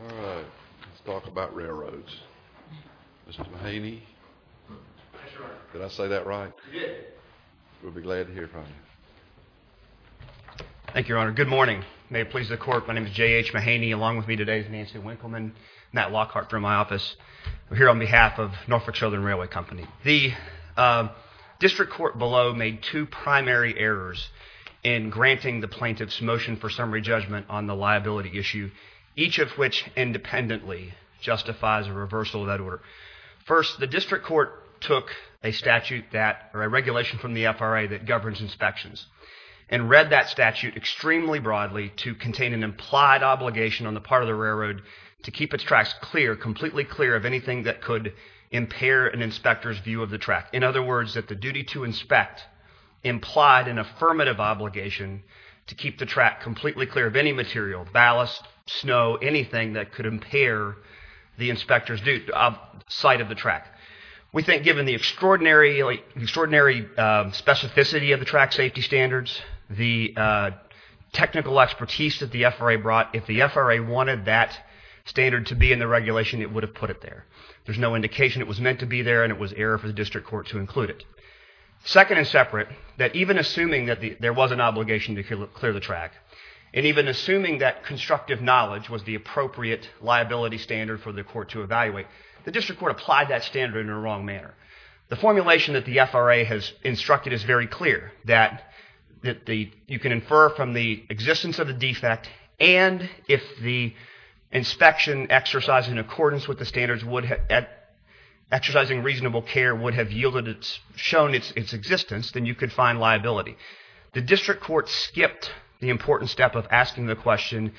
Let's talk about railroads. Mr. Mahaney, did I say that right? You did. We'll be glad to hear from you. Thank you, Your Honor. Good morning. May it please the court, my name is J.H. Mahaney. Along with me today is Nancy Winkleman, Matt Lockhart from my office. We're here on behalf of Norfolk Southern Railway Company. The district court below made two primary errors in granting the plaintiff's motion for summary judgment on the liability issue. Each of which independently justifies a reversal of that order. First, the district court took a statute that, or a regulation from the FRA that governs inspections and read that statute extremely broadly to contain an implied obligation on the part of the railroad to keep its tracks clear, completely clear of anything that could impair an inspector's view of the track. In other words, that the duty to inspect implied an affirmative obligation to keep the track completely clear of any material, ballast, snow, anything that could impair the inspector's sight of the track. We think given the extraordinary specificity of the track safety standards, the technical expertise that the FRA brought, if the FRA wanted that standard to be in the regulation, it would have put it there. There's no indication it was meant to be there, and it was error for the district court to include it. Second and separate, that even assuming that there was an obligation to clear the track, and even assuming that constructive knowledge was the appropriate liability standard for the court to evaluate, the district court applied that standard in a wrong manner. The formulation that the FRA has instructed is very clear, that you can infer from the existence of the defect, and if the inspection exercised in accordance with the standards, exercising reasonable care, would have shown its existence, then you could find liability. The district court skipped the important step of asking the question,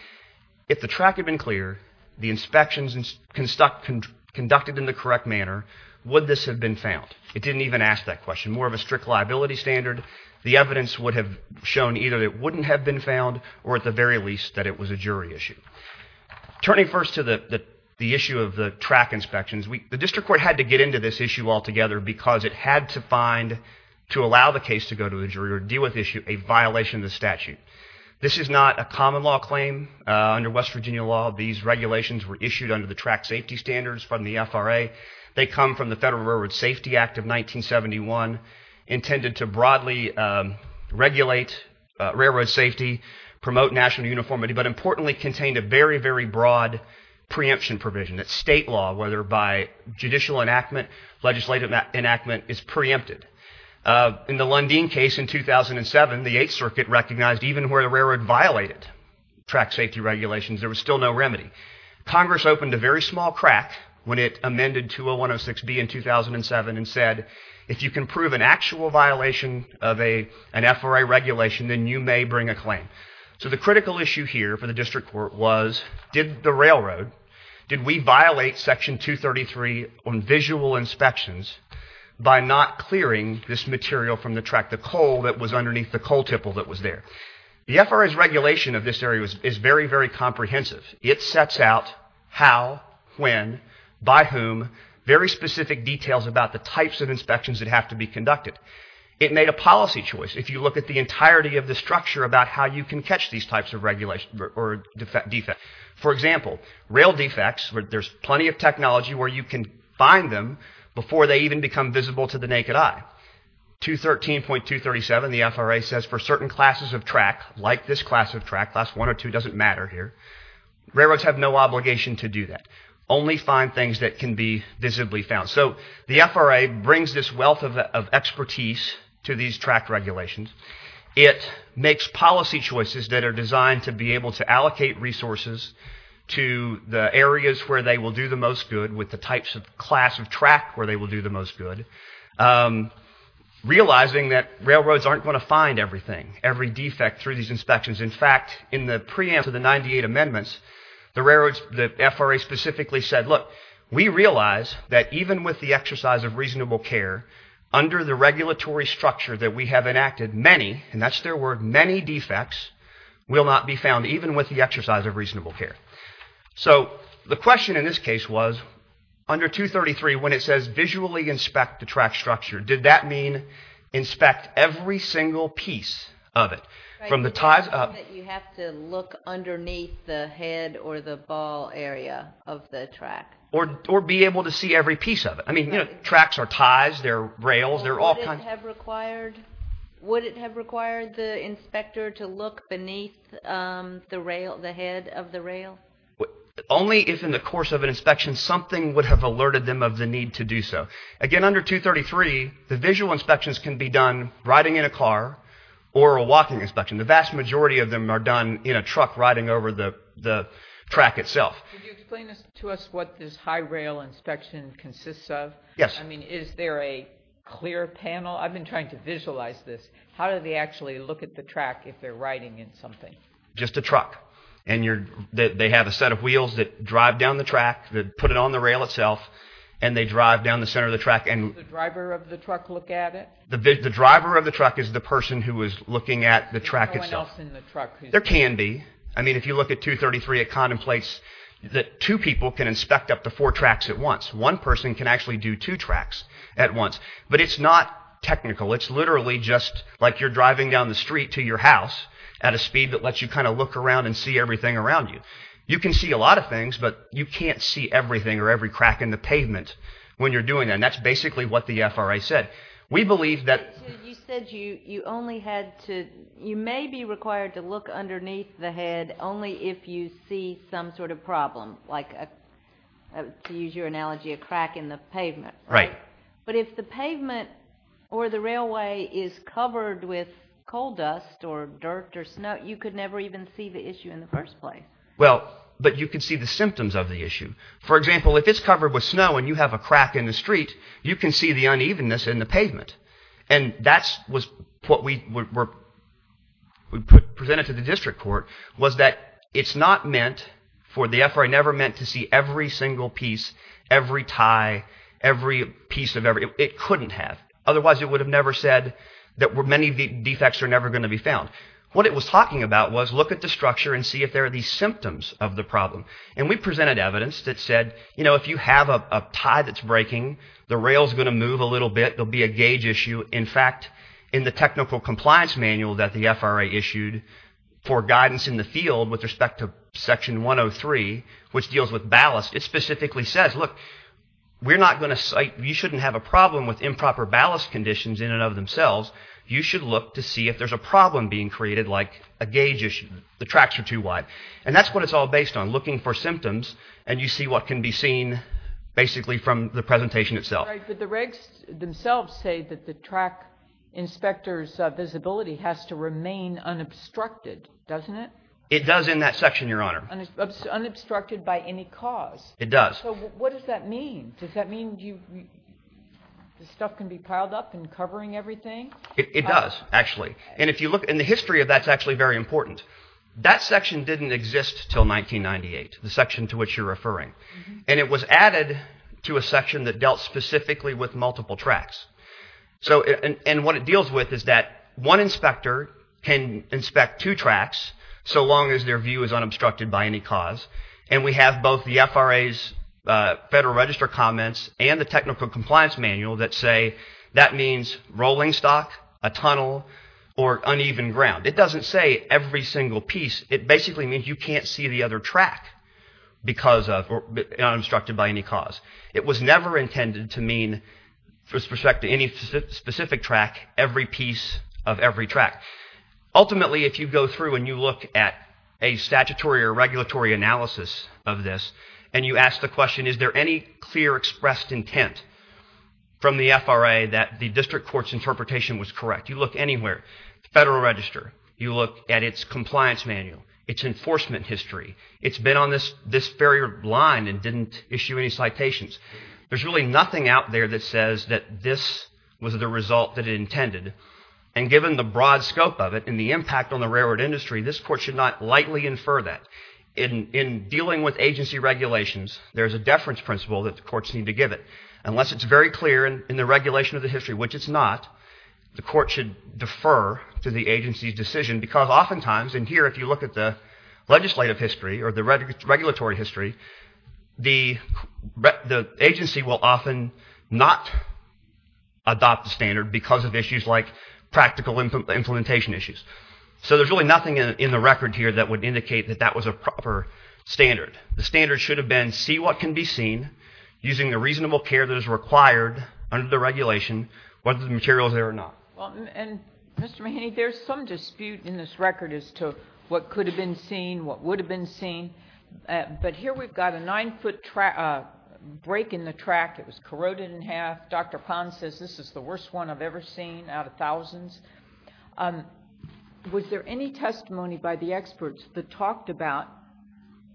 if the track had been clear, the inspections conducted in the correct manner, would this have been found? It didn't even ask that question. More of a strict liability standard, the evidence would have shown either that it wouldn't have been found, or at the very least, that it was a jury issue. Turning first to the issue of the track inspections, the district court had to get into this issue altogether because it had to find, to allow the case to go to the jury, or deal with the issue, a violation of the statute. This is not a common law claim. Under West Virginia law, these regulations were issued under the track safety standards from the FRA. They come from the Federal Railroad Safety Act of 1971, intended to broadly regulate railroad safety, promote national uniformity, but importantly contained a very, very broad preemption provision. That state law, whether by judicial enactment, legislative enactment, is preempted. In the Lundin case in 2007, the Eighth Circuit recognized even where the railroad violated track safety regulations, there was still no remedy. Congress opened a very small crack when it amended 20106B in 2007 and said, if you can prove an actual violation of an FRA regulation, then you may bring a claim. So the critical issue here for the district court was, did the railroad, did we violate Section 233 on visual inspections by not clearing this material from the track, the coal that was underneath the coal tipple that was there? The FRA's regulation of this area is very, very comprehensive. It sets out how, when, by whom, very specific details about the types of inspections that have to be conducted. It made a policy choice. If you look at the entirety of the structure about how you can catch these types of regulations or defects. For example, rail defects, there's plenty of technology where you can find them before they even become visible to the naked eye. 213.237, the FRA says, for certain classes of track, like this class of track, class one or two, doesn't matter here, railroads have no obligation to do that. Only find things that can be visibly found. So the FRA brings this wealth of expertise to these track regulations. It makes policy choices that are designed to be able to allocate resources to the areas where they will do the most good, with the types of class of track where they will do the most good. Realizing that railroads aren't going to find everything, every defect through these inspections. In fact, in the preamble to the 98 amendments, the FRA specifically said, look, we realize that even with the exercise of reasonable care, under the regulatory structure that we have enacted, many, and that's their word, many defects will not be found, even with the exercise of reasonable care. So the question in this case was, under 233, when it says visually inspect the track structure, did that mean inspect every single piece of it? You have to look underneath the head or the ball area of the track. Or be able to see every piece of it. Tracks are ties, they're rails. Would it have required the inspector to look beneath the head of the rail? Only if in the course of an inspection something would have alerted them of the need to do so. Again, under 233, the visual inspections can be done riding in a car or a walking inspection. The vast majority of them are done in a truck riding over the track itself. Could you explain to us what this high rail inspection consists of? Yes. I mean, is there a clear panel? I've been trying to visualize this. How do they actually look at the track if they're riding in something? Just a truck. And they have a set of wheels that drive down the track, that put it on the rail itself, and they drive down the center of the track. Does the driver of the truck look at it? The driver of the truck is the person who is looking at the track itself. There's no one else in the truck? There can be. I mean, if you look at 233, it contemplates that two people can inspect up to four tracks at once. One person can actually do two tracks at once. But it's not technical. It's literally just like you're driving down the street to your house at a speed that lets you kind of look around and see everything around you. You can see a lot of things, but you can't see everything or every crack in the pavement when you're doing that. And that's basically what the FRA said. We believe that— You said you only had to—you may be required to look underneath the head only if you see some sort of problem, like to use your analogy, a crack in the pavement. Right. But if the pavement or the railway is covered with coal dust or dirt or snow, you could never even see the issue in the first place. Well, but you could see the symptoms of the issue. For example, if it's covered with snow and you have a crack in the street, you can see the unevenness in the pavement. And that's what we presented to the district court, was that it's not meant for the FRA—never meant to see every single piece, every tie, every piece of every—it couldn't have. Otherwise, it would have never said that many defects are never going to be found. What it was talking about was look at the structure and see if there are these symptoms of the problem. And we presented evidence that said, you know, if you have a tie that's breaking, the rail's going to move a little bit, there'll be a gauge issue. In fact, in the technical compliance manual that the FRA issued for guidance in the field with respect to Section 103, which deals with ballast, it specifically says, look, we're not going to—you shouldn't have a problem with improper ballast conditions in and of themselves. You should look to see if there's a problem being created like a gauge issue, the tracks are too wide. And that's what it's all based on, looking for symptoms, and you see what can be seen basically from the presentation itself. But the regs themselves say that the track inspector's visibility has to remain unobstructed, doesn't it? It does in that section, Your Honor. Unobstructed by any cause? It does. So what does that mean? Does that mean the stuff can be piled up and covering everything? It does, actually. And the history of that's actually very important. That section didn't exist until 1998, the section to which you're referring. And it was added to a section that dealt specifically with multiple tracks. And what it deals with is that one inspector can inspect two tracks so long as their view is unobstructed by any cause. And we have both the FRA's Federal Register comments and the Technical Compliance Manual that say that means rolling stock, a tunnel, or uneven ground. It doesn't say every single piece. It basically means you can't see the other track because of or unobstructed by any cause. It was never intended to mean, with respect to any specific track, every piece of every track. Ultimately, if you go through and you look at a statutory or regulatory analysis of this and you ask the question, is there any clear expressed intent from the FRA that the district court's interpretation was correct? You look anywhere. Federal Register. You look at its compliance manual, its enforcement history. It's been on this very line and didn't issue any citations. There's really nothing out there that says that this was the result that it intended. And given the broad scope of it and the impact on the railroad industry, this court should not lightly infer that. In dealing with agency regulations, there's a deference principle that the courts need to give it. Unless it's very clear in the regulation of the history, which it's not, the court should defer to the agency's decision because oftentimes, and here if you look at the legislative history or the regulatory history, the agency will often not adopt the standard because of issues like practical implementation issues. So there's really nothing in the record here that would indicate that that was a proper standard. The standard should have been see what can be seen using the reasonable care that is required under the regulation, whether the material is there or not. And, Mr. Mahaney, there's some dispute in this record as to what could have been seen, what would have been seen, but here we've got a nine-foot break in the track that was corroded in half. Dr. Pond says this is the worst one I've ever seen out of thousands. Was there any testimony by the experts that talked about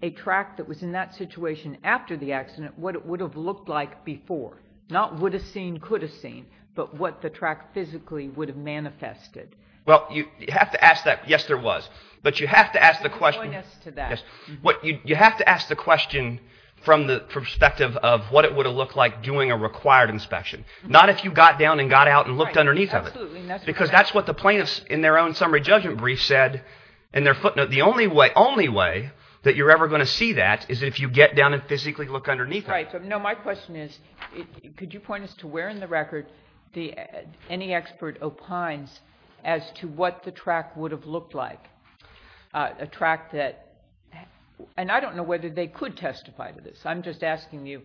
a track that was in that situation after the accident, what it would have looked like before, not would have seen, could have seen, but what the track physically would have manifested? Well, you have to ask that. Yes, there was. You have to ask the question from the perspective of what it would have looked like doing a required inspection, not if you got down and got out and looked underneath of it, because that's what the plaintiffs in their own summary judgment brief said in their footnote. The only way that you're ever going to see that is if you get down and physically look underneath of it. All right. So no, my question is, could you point us to where in the record any expert opines as to what the track would have looked like, a track that, and I don't know whether they could testify to this. I'm just asking you,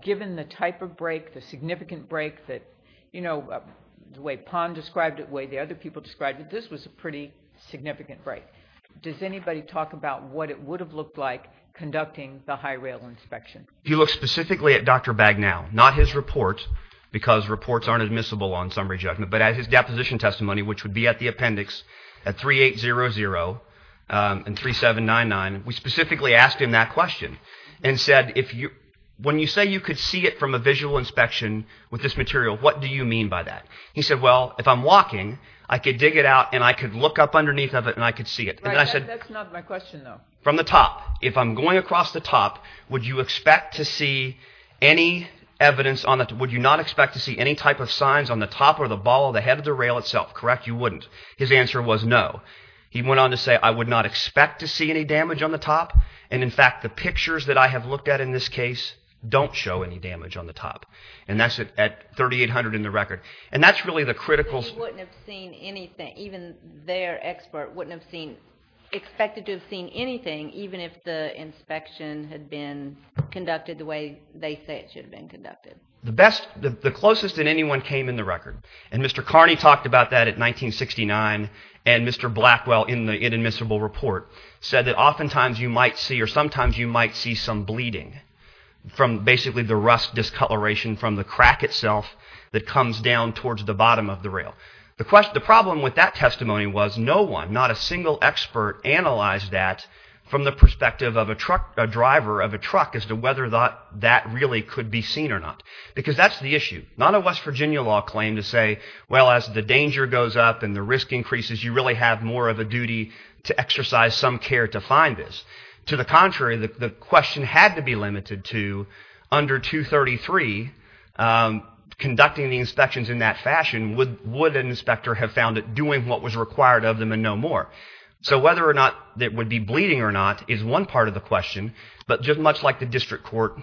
given the type of break, the significant break that, you know, the way Pond described it, the way the other people described it, this was a pretty significant break. Does anybody talk about what it would have looked like conducting the high rail inspection? If you look specifically at Dr. Bagnall, not his report, because reports aren't admissible on summary judgment, but as his deposition testimony, which would be at the appendix at 3800 and 3799, we specifically asked him that question and said, when you say you could see it from a visual inspection with this material, what do you mean by that? He said, well, if I'm walking, I could dig it out and I could look up underneath of it and I could see it. That's not my question, though. From the top. If I'm going across the top, would you expect to see any evidence, would you not expect to see any type of signs on the top or the ball or the head of the rail itself? Correct, you wouldn't. His answer was no. He went on to say, I would not expect to see any damage on the top, and in fact the pictures that I have looked at in this case don't show any damage on the top. And that's at 3800 in the record. And that's really the critical... So you wouldn't have seen anything, even their expert wouldn't have seen, expected to have seen anything, even if the inspection had been conducted the way they say it should have been conducted. The best, the closest that anyone came in the record, and Mr. Carney talked about that at 1969, and Mr. Blackwell in the inadmissible report said that oftentimes you might see, or sometimes you might see some bleeding from basically the rust discoloration from the crack itself that comes down towards the bottom of the rail. The problem with that testimony was no one, not a single expert, analyzed that from the perspective of a truck, a driver of a truck, as to whether that really could be seen or not. Because that's the issue. Not a West Virginia law claim to say, well, as the danger goes up and the risk increases, you really have more of a duty to exercise some care to find this. To the contrary, the question had to be limited to under 233, conducting the inspections in that fashion, would an inspector have found it doing what was required of them and no more? So whether or not it would be bleeding or not is one part of the question, but just much like the district court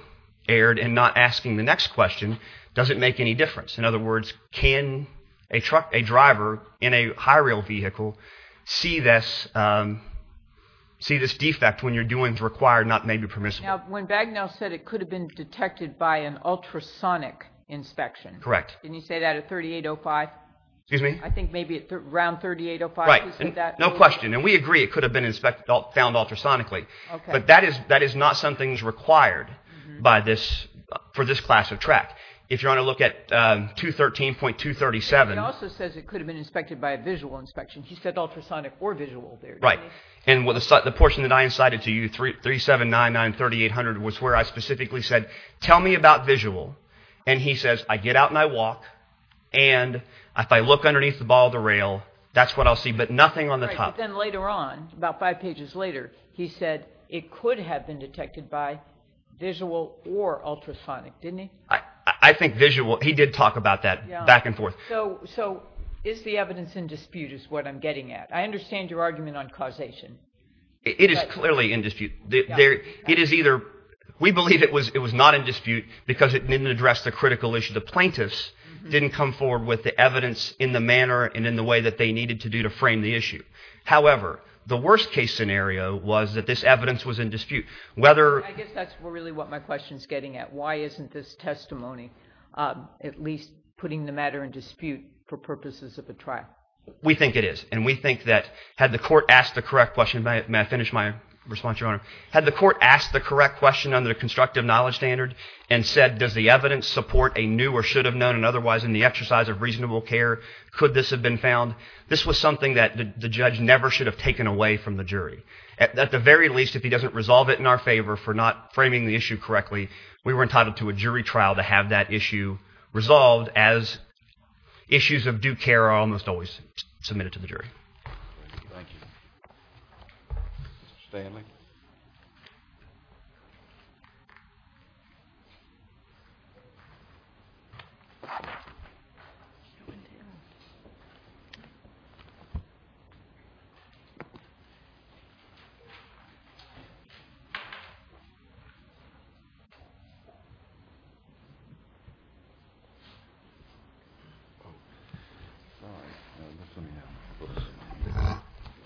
erred in not asking the next question, does it make any difference? In other words, can a truck, a driver in a high rail vehicle, see this defect when you're doing what's required and not maybe permissible? Now, when Bagnell said it could have been detected by an ultrasonic inspection. Correct. Didn't he say that at 3805? Excuse me? I think maybe around 3805 he said that. No question, and we agree it could have been found ultrasonically, but that is not something that's required for this class of track. If you want to look at 213.237. He also says it could have been inspected by a visual inspection. He said ultrasonic or visual there. Right, and the portion that I incited to you, 37993800, was where I specifically said, tell me about visual. And he says, I get out and I walk, and if I look underneath the bottom of the rail, that's what I'll see, but nothing on the top. Right, but then later on, about five pages later, he said it could have been detected by visual or ultrasonic, didn't he? I think visual. He did talk about that back and forth. So is the evidence in dispute is what I'm getting at. I understand your argument on causation. It is clearly in dispute. We believe it was not in dispute because it didn't address the critical issue. The plaintiffs didn't come forward with the evidence in the manner and in the way that they needed to do to frame the issue. However, the worst-case scenario was that this evidence was in dispute. I guess that's really what my question is getting at. Why isn't this testimony at least putting the matter in dispute for purposes of a trial? We think it is, and we think that had the court asked the correct question, may I finish my response, Your Honor? Had the court asked the correct question under the constructive knowledge standard and said does the evidence support a new or should have known and otherwise in the exercise of reasonable care could this have been found, this was something that the judge never should have taken away from the jury. At the very least, if he doesn't resolve it in our favor for not framing the issue correctly, we were entitled to a jury trial to have that issue resolved as issues of due care are almost always submitted to the jury. Thank you. Mr. Stanley?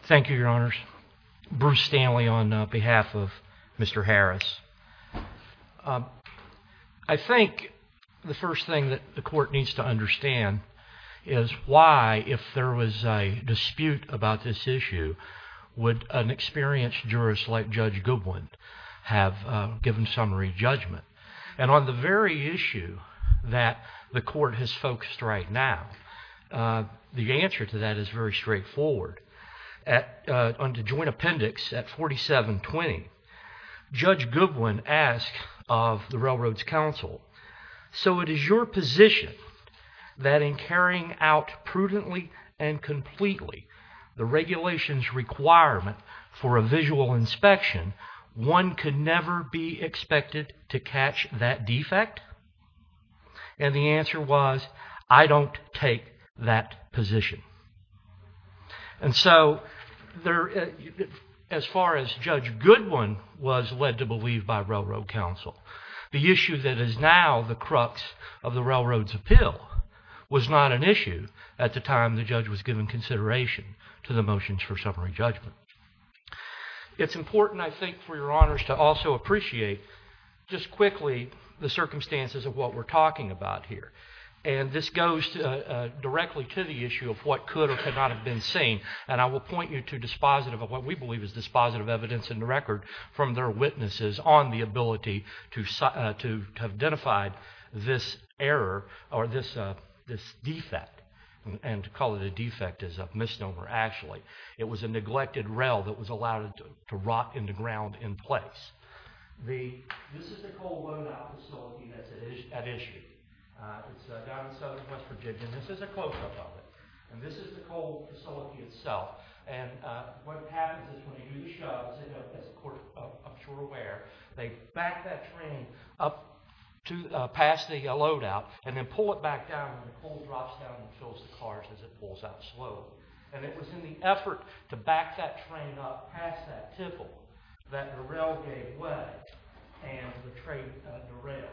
Thank you, Your Honors. Bruce Stanley on behalf of Mr. Harris. I think the first thing that the court needs to understand is why, if there was a dispute about this issue, would an experienced jurist like Judge Goodwin have given summary judgment? And on the very issue that the court has focused right now, the answer to that is very straightforward. Under joint appendix at 4720, Judge Goodwin asked of the Railroad's counsel, so it is your position that in carrying out prudently and completely the regulations requirement for a visual inspection, one could never be expected to catch that defect? And the answer was, I don't take that position. And so, as far as Judge Goodwin was led to believe by Railroad counsel, the issue that is now the crux of the Railroad's appeal was not an issue at the time the judge was given consideration to the motions for summary judgment. It's important, I think, for Your Honors to also appreciate just quickly the circumstances of what we're talking about here. And this goes directly to the issue of what could or could not have been seen, and I will point you to what we believe is dispositive evidence in the record from their witnesses on the ability to have identified this error or this defect. And to call it a defect is a misnomer, actually. It was a neglected rail that was allowed to rot in the ground in place. This is the coal load-out facility that's at issue. It's down in southwest Virginia, and this is a close-up of it. And this is the coal facility itself. And what happens is when you do the shoves, as I'm sure you're aware, they back that train up past the load-out and then pull it back down when the coal drops down and fills the cars as it pulls out slowly. And it was in the effort to back that train up past that tipple that the rail gave way and the train derailed.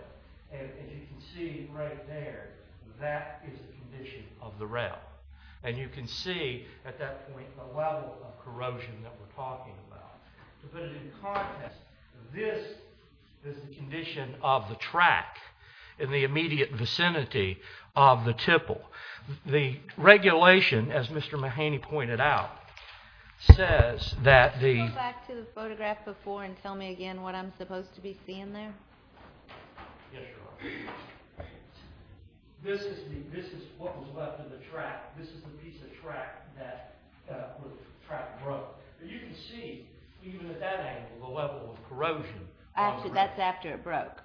And you can see right there, that is the condition of the rail. And you can see at that point the level of corrosion that we're talking about. But in context, this is the condition of the track in the immediate vicinity of the tipple. The regulation, as Mr. Mahaney pointed out, says that the— Can you go back to the photograph before and tell me again what I'm supposed to be seeing there? Yes, your Honor. This is what was left of the track. This is the piece of track that the track broke. And you can see, even at that angle, the level of corrosion. That's after it broke.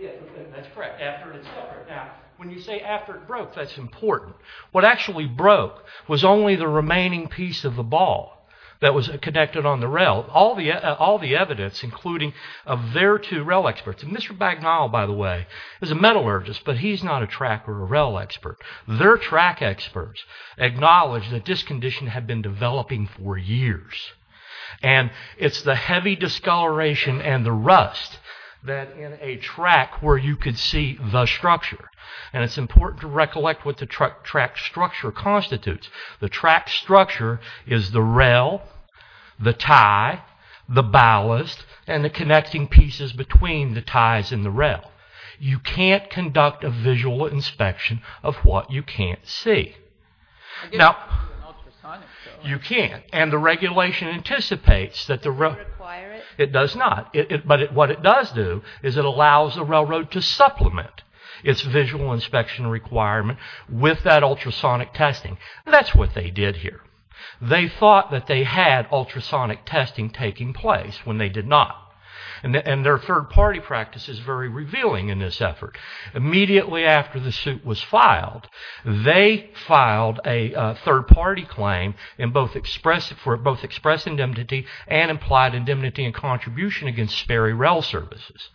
Yeah, that's correct. After it had suffered. Now, when you say after it broke, that's important. What actually broke was only the remaining piece of the ball that was connected on the rail, all the evidence, including of their two rail experts. Mr. Bagnall, by the way, is a metallurgist, but he's not a track or a rail expert. Their track experts acknowledge that this condition had been developing for years. And it's the heavy discoloration and the rust that in a track where you could see the structure. And it's important to recollect what the track structure constitutes. The track structure is the rail, the tie, the ballast, and the connecting pieces between the ties and the rail. You can't conduct a visual inspection of what you can't see. Now, you can't. And the regulation anticipates that the rail... Does it require it? It does not. But what it does do is it allows the railroad to supplement its visual inspection requirement with that ultrasonic testing. That's what they did here. They thought that they had ultrasonic testing taking place when they did not. And their third-party practice is very revealing in this effort. Immediately after the suit was filed, they filed a third-party claim for both express indemnity and implied indemnity and contribution against Sperry Rail Services,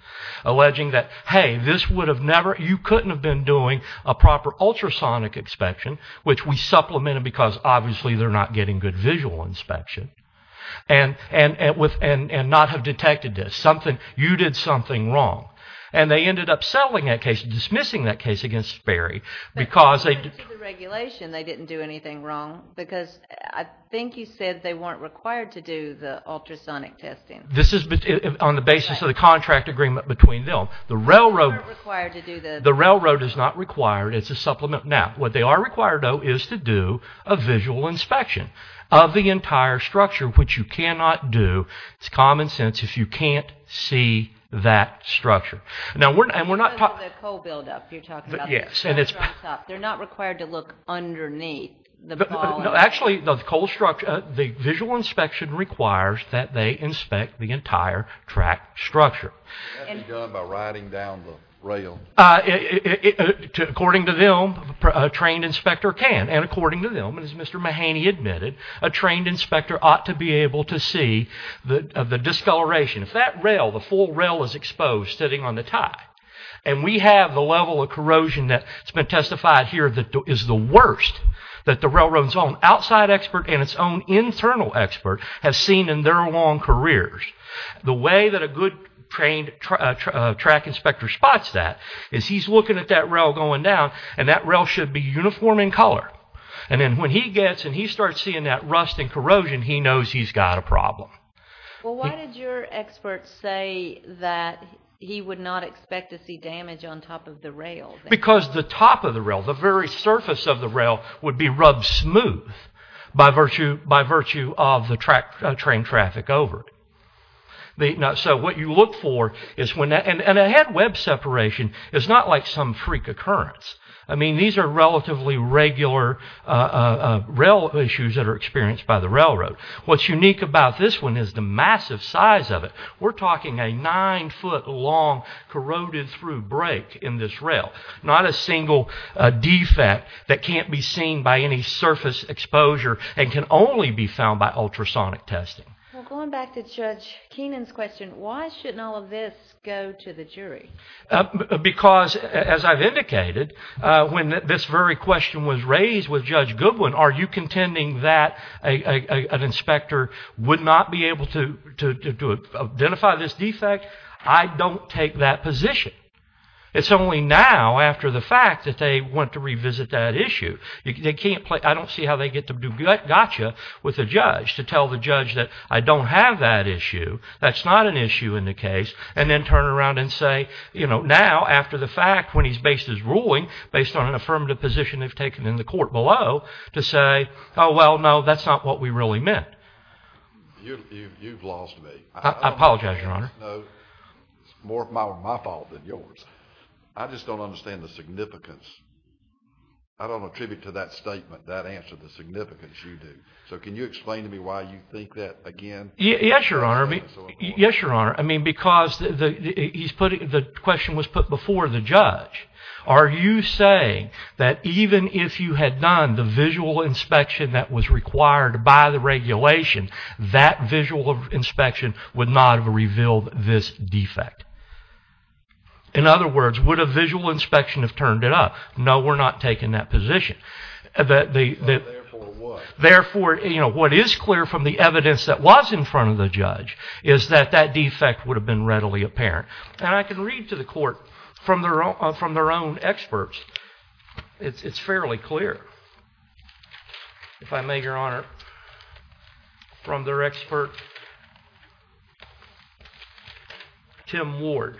alleging that, hey, this would have never... You couldn't have been doing a proper ultrasonic inspection, which we supplemented because, obviously, they're not getting good visual inspection, and not have detected this. You did something wrong. And they ended up settling that case, dismissing that case against Sperry. But according to the regulation, they didn't do anything wrong because I think you said they weren't required to do the ultrasonic testing. This is on the basis of the contract agreement between them. They weren't required to do the... The railroad is not required. It's a supplement. Now, what they are required, though, is to do a visual inspection of the entire structure, which you cannot do. It's common sense if you can't see that structure. Now, we're not... The coal buildup you're talking about. Yes, and it's... They're not required to look underneath the ball of... No, actually, the coal structure... The visual inspection requires that they inspect the entire track structure. That'd be done by riding down the rail. According to them, a trained inspector can. And according to them, as Mr. Mahaney admitted, a trained inspector ought to be able to see the discoloration. If that rail, the full rail, is exposed sitting on the tie and we have the level of corrosion that's been testified here that is the worst that the railroad's own outside expert and its own internal expert has seen in their long careers, the way that a good trained track inspector spots that is he's looking at that rail going down and that rail should be uniform in color. And then when he gets and he starts seeing that rust and corrosion, he knows he's got a problem. Well, why did your expert say that he would not expect to see damage on top of the rail? Because the top of the rail, the very surface of the rail, would be rubbed smooth by virtue of the train traffic over it. So what you look for is when that... And a head-web separation is not like some freak occurrence. I mean, these are relatively regular rail issues that are experienced by the railroad. What's unique about this one is the massive size of it. We're talking a nine-foot-long corroded-through break in this rail, not a single defect that can't be seen by any surface exposure and can only be found by ultrasonic testing. Well, going back to Judge Keenan's question, why shouldn't all of this go to the jury? Because, as I've indicated, when this very question was raised with Judge Goodwin, are you contending that an inspector would not be able to identify this defect? I don't take that position. It's only now, after the fact, that they want to revisit that issue. I don't see how they get to do gotcha with the judge to tell the judge that I don't have that issue, that's not an issue in the case, and then turn around and say, you know, now, after the fact, when he's based his ruling based on an affirmative position they've taken in the court below, to say, oh, well, no, that's not what we really meant. You've lost me. I apologize, Your Honor. It's more my fault than yours. I just don't understand the significance. I don't attribute to that statement, that answer, the significance you do. So can you explain to me why you think that, again? Yes, Your Honor. I mean, because the question was put before the judge. Are you saying that even if you had done the visual inspection that was required by the regulation, that visual inspection would not have revealed this defect? In other words, would a visual inspection have turned it up? No, we're not taking that position. Therefore, what? Therefore, you know, what is clear from the evidence that was in front of the judge is that that defect would have been readily apparent. And I can read to the court from their own experts. It's fairly clear, if I may, Your Honor, from their expert, Tim Ward.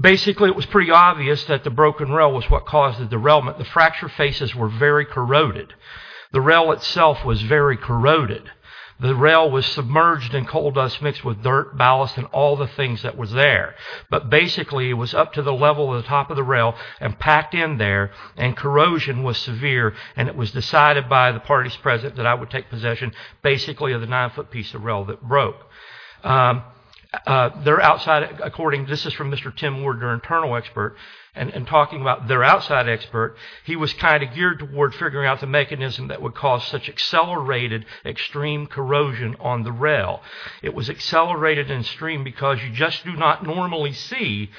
Basically, it was pretty obvious that the broken rail was what caused the derailment. The fracture faces were very corroded. The rail itself was very corroded. The rail was submerged in coal dust mixed with dirt, ballast, and all the things that was there. But basically, it was up to the level of the top of the rail and packed in there, and corrosion was severe, and it was decided by the parties present that I would take possession, basically, of the 9-foot piece of rail that broke. Their outside, according, this is from Mr. Tim Ward, their internal expert, and talking about their outside expert, he was kind of geared toward figuring out the mechanism that would cause such accelerated extreme corrosion on the rail. It was accelerated in stream because you just do not normally see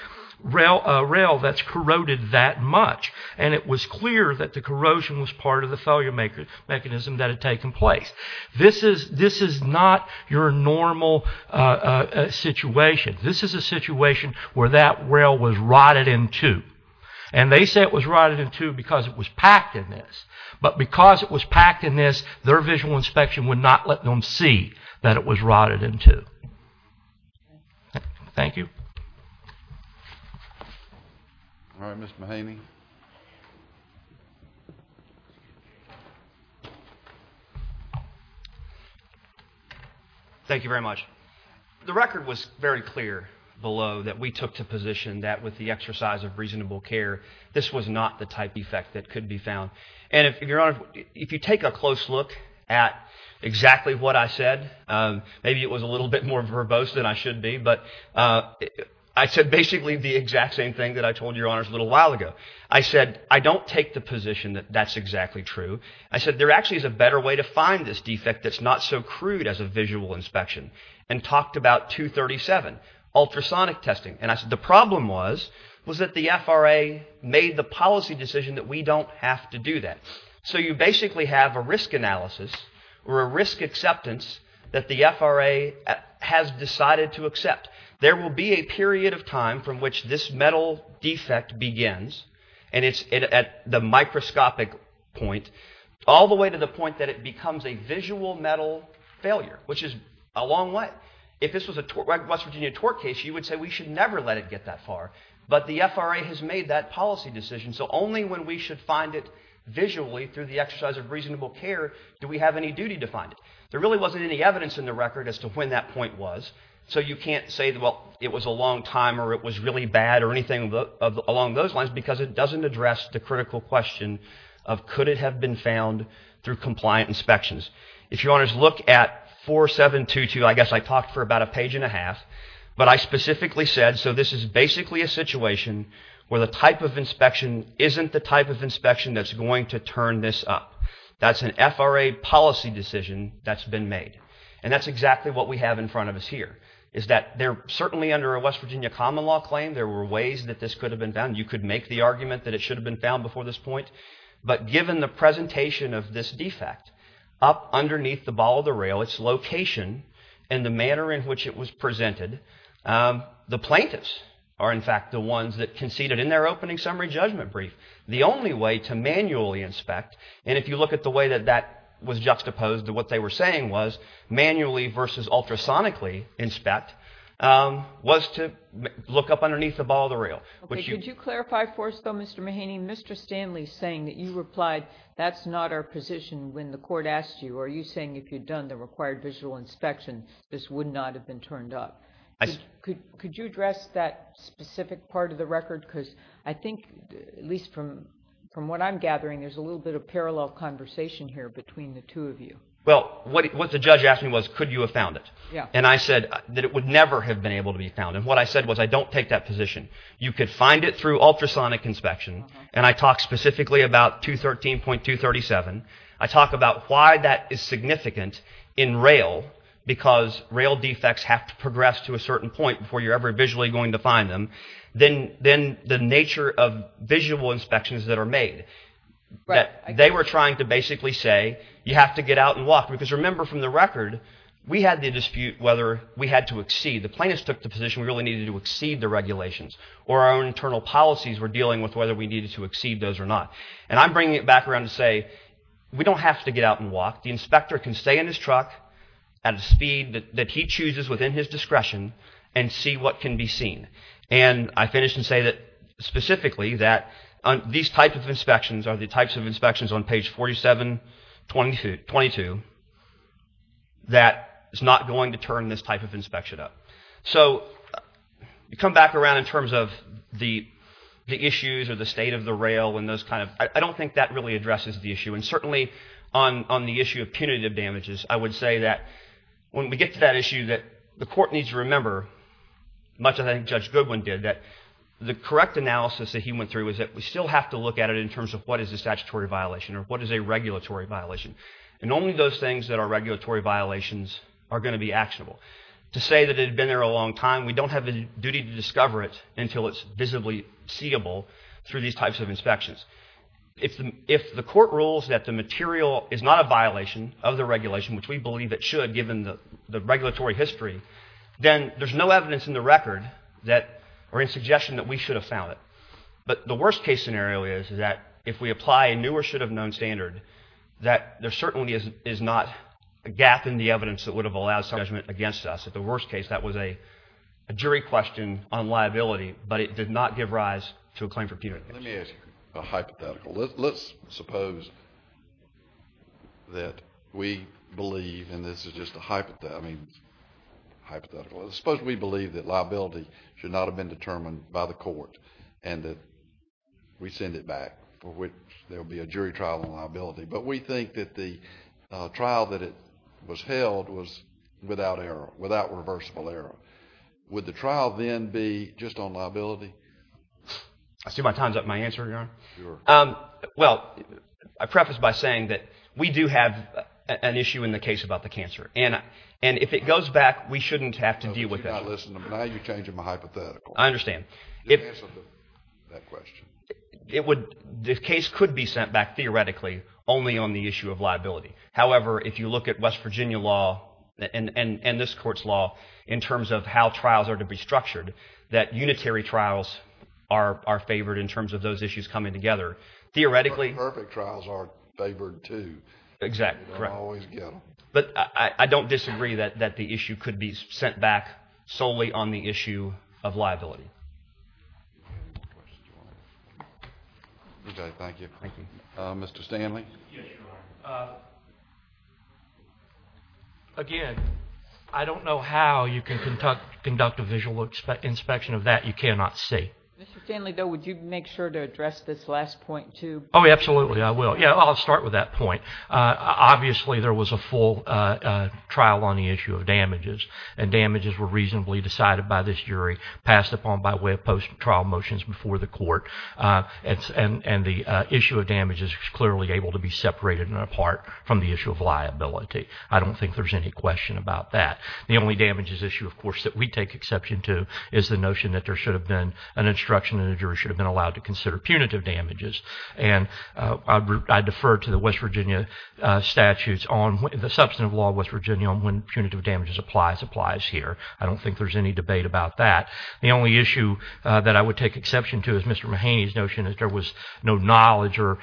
a rail that's corroded that much, and it was clear that the corrosion was part of the failure mechanism that had taken place. This is not your normal situation. This is a situation where that rail was rotted in two, and they say it was rotted in two because it was packed in this. But because it was packed in this, their visual inspection would not let them see that it was rotted in two. Thank you. All right, Mr. Mahaney. Thank you very much. The record was very clear below that we took to position that with the exercise of reasonable care, this was not the type of effect that could be found. And, Your Honor, if you take a close look at exactly what I said, maybe it was a little bit more verbose than I should be, but I said basically the exact same thing that I told Your Honors a little while ago. I said I don't take the position that that's exactly true. I said there actually is a better way to find this defect that's not so crude as a visual inspection, and talked about 237, ultrasonic testing. And I said the problem was that the FRA made the policy decision that we don't have to do that. So you basically have a risk analysis or a risk acceptance that the FRA has decided to accept. There will be a period of time from which this metal defect begins, and it's at the microscopic point all the way to the point that it becomes a visual metal failure, which is a long way. If this was a West Virginia tort case, you would say we should never let it get that far. But the FRA has made that policy decision, so only when we should find it visually through the exercise of reasonable care do we have any duty to find it. There really wasn't any evidence in the record as to when that point was, so you can't say, well, it was a long time or it was really bad or anything along those lines, because it doesn't address the critical question of could it have been found through compliant inspections. If you want to just look at 4722, I guess I talked for about a page and a half, but I specifically said, so this is basically a situation where the type of inspection isn't the type of inspection that's going to turn this up. That's an FRA policy decision that's been made. And that's exactly what we have in front of us here, is that certainly under a West Virginia common law claim there were ways that this could have been found. You could make the argument that it should have been found before this point, but given the presentation of this defect up underneath the ball of the rail, its location and the manner in which it was presented, the plaintiffs are in fact the ones that conceded in their opening summary judgment brief the only way to manually inspect, and if you look at the way that that was juxtaposed to what they were saying was, manually versus ultrasonically inspect, was to look up underneath the ball of the rail. Could you clarify for us, though, Mr. Mahaney, Mr. Stanley saying that you replied, that's not our position when the court asked you, or you saying if you'd done the required visual inspection, this would not have been turned up. Could you address that specific part of the record? Because I think, at least from what I'm gathering, there's a little bit of parallel conversation here between the two of you. Well, what the judge asked me was, could you have found it? And I said that it would never have been able to be found. And what I said was, I don't take that position. You could find it through ultrasonic inspection, and I talk specifically about 213.237. I talk about why that is significant in rail, because rail defects have to progress to a certain point before you're ever visually going to find them. Then the nature of visual inspections that are made, that they were trying to basically say, you have to get out and walk. Because remember from the record, we had the dispute whether we had to exceed. The plaintiffs took the position we really needed to exceed the regulations. Or our own internal policies were dealing with whether we needed to exceed those or not. And I'm bringing it back around to say, we don't have to get out and walk. The inspector can stay in his truck at a speed that he chooses within his discretion and see what can be seen. And I finish and say that, specifically, that these types of inspections are the types of inspections on page 47.22 that is not going to turn this type of inspection up. So you come back around in terms of the issues or the state of the rail and those kind of, I don't think that really addresses the issue. And certainly on the issue of punitive damages, I would say that when we get to that issue that the court needs to remember, much as I think Judge Goodwin did, that the correct analysis that he went through is that we still have to look at it in terms of what is a statutory violation or what is a regulatory violation. And only those things that are regulatory violations are going to be actionable. To say that it had been there a long time, we don't have the duty to discover it until it's visibly seeable through these types of inspections. If the court rules that the material is not a violation of the regulation, which we believe it should, given the regulatory history, then there's no evidence in the record or in suggestion that we should have found it. But the worst-case scenario is that if we apply a new or should-have-known standard, that there certainly is not a gap in the evidence that would have allowed judgment against us. At the worst case, that was a jury question on liability, but it did not give rise to a claim for punitive action. Let me ask you a hypothetical. Let's suppose that we believe, and this is just a hypothetical, suppose we believe that liability should not have been determined by the court and that we send it back, for which there will be a jury trial on liability. But we think that the trial that it was held was without irreversible error. Would the trial then be just on liability? I see my time's up on my answer, Your Honor. Sure. Well, I preface by saying that we do have an issue in the case about the cancer, and if it goes back, we shouldn't have to deal with it. No, you do not listen to me. Now you're changing my hypothetical. I understand. Just answer that question. The case could be sent back, theoretically, only on the issue of liability. However, if you look at West Virginia law and this Court's law in terms of how trials are to be structured, that unitary trials are favored in terms of those issues coming together. Theoretically... Perfect trials are favored, too. Exactly, correct. You don't always get them. But I don't disagree that the issue could be sent back solely on the issue of liability. Okay, thank you. Mr. Stanley? Yes, Your Honor. Again, I don't know how you can conduct a visual inspection of that. You cannot see. Mr. Stanley, though, would you make sure to address this last point, too? Oh, absolutely, I will. Yeah, I'll start with that point. Obviously, there was a full trial on the issue of damages, and damages were reasonably decided by this jury, and the issue of damages is clearly able to be separated and apart from the issue of liability. I don't think there's any question about that. The only damages issue, of course, that we take exception to is the notion that there should have been an instruction and the jury should have been allowed to consider punitive damages. And I defer to the West Virginia statutes on the substantive law of West Virginia on when punitive damages applies applies here. I don't think there's any debate about that. The only issue that I would take exception to is Mr. Mahaney's notion that there was no knowledge or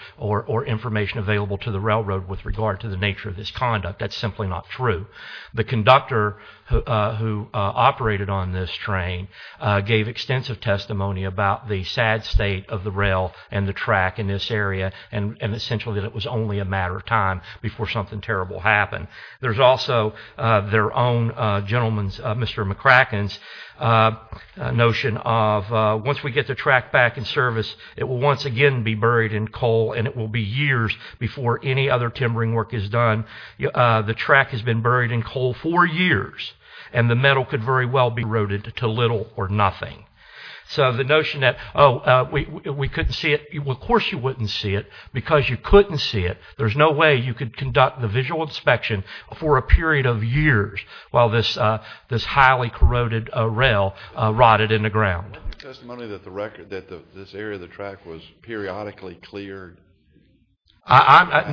information available to the railroad with regard to the nature of this conduct. That's simply not true. The conductor who operated on this train gave extensive testimony about the sad state of the rail and the track in this area, and essentially that it was only a matter of time before something terrible happened. There's also their own gentleman's, Mr. McCracken's, notion of once we get the track back in service, it will once again be buried in coal and it will be years before any other timbering work is done. The track has been buried in coal for years and the metal could very well be corroded to little or nothing. So the notion that, oh, we couldn't see it, well, of course you wouldn't see it because you couldn't see it. There's no way you could conduct the visual inspection for a period of years while this highly corroded rail rotted in the ground. There's testimony that this area of the track was periodically cleared. I'm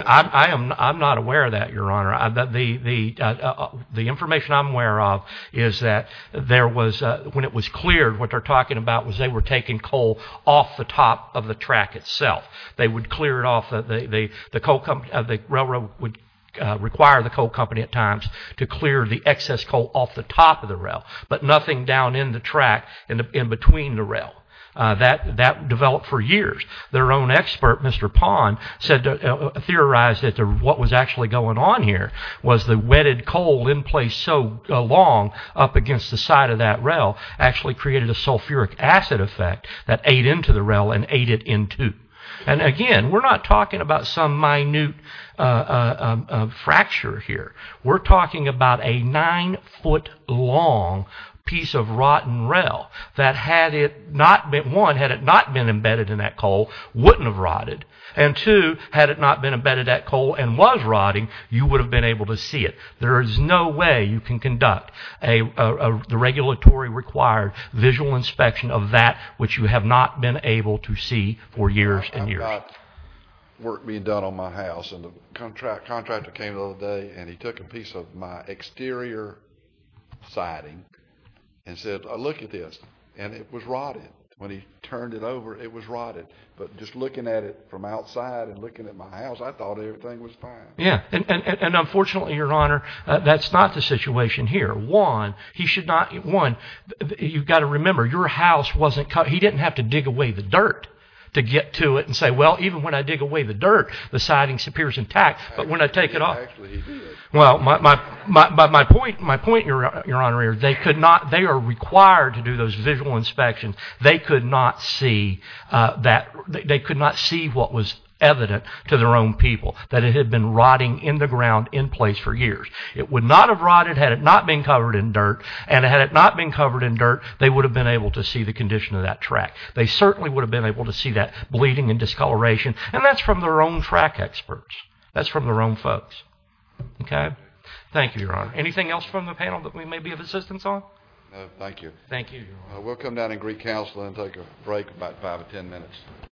not aware of that, Your Honor. The information I'm aware of is that when it was cleared, what they're talking about was they were taking coal off the top of the track itself. They would clear it off. The railroad would require the coal company at times to clear the excess coal off the top of the rail, but nothing down in the track in between the rail. That developed for years. Their own expert, Mr. Pond, theorized that what was actually going on here was the wetted coal in place so long up against the side of that rail actually created a sulfuric acid effect that ate into the rail and ate it in two. And again, we're not talking about some minute fracture here. We're talking about a nine-foot long piece of rotten rail that had it not been, one, had it not been embedded in that coal, wouldn't have rotted. And two, had it not been embedded in that coal and was rotting, you would have been able to see it. There is no way you can conduct the regulatory required visual inspection of that which you have not been able to see for years and years. I've got work being done on my house. The contractor came the other day and he took a piece of my exterior siding and said, look at this. And it was rotted. When he turned it over, it was rotted. But just looking at it from outside and looking at my house, I thought everything was fine. Yeah, and unfortunately, Your Honor, that's not the situation here. One, you've got to remember, your house wasn't cut. He didn't have to dig away the dirt to get to it and say, well, even when I dig away the dirt, the siding appears intact. But when I take it off... Actually, he did. Well, my point, Your Honor, they are required to do those visual inspections. They could not see what was evident to their own people, that it had been rotting in the ground in place for years. It would not have rotted had it not been covered in dirt. And had it not been covered in dirt, they would have been able to see the condition of that track. They certainly would have been able to see that bleeding and discoloration. And that's from their own track experts. That's from their own folks. Okay? Thank you, Your Honor. Anything else from the panel that we may be of assistance on? No, thank you. Thank you, Your Honor. We'll come down in Greek Council and take a break, about 5 or 10 minutes.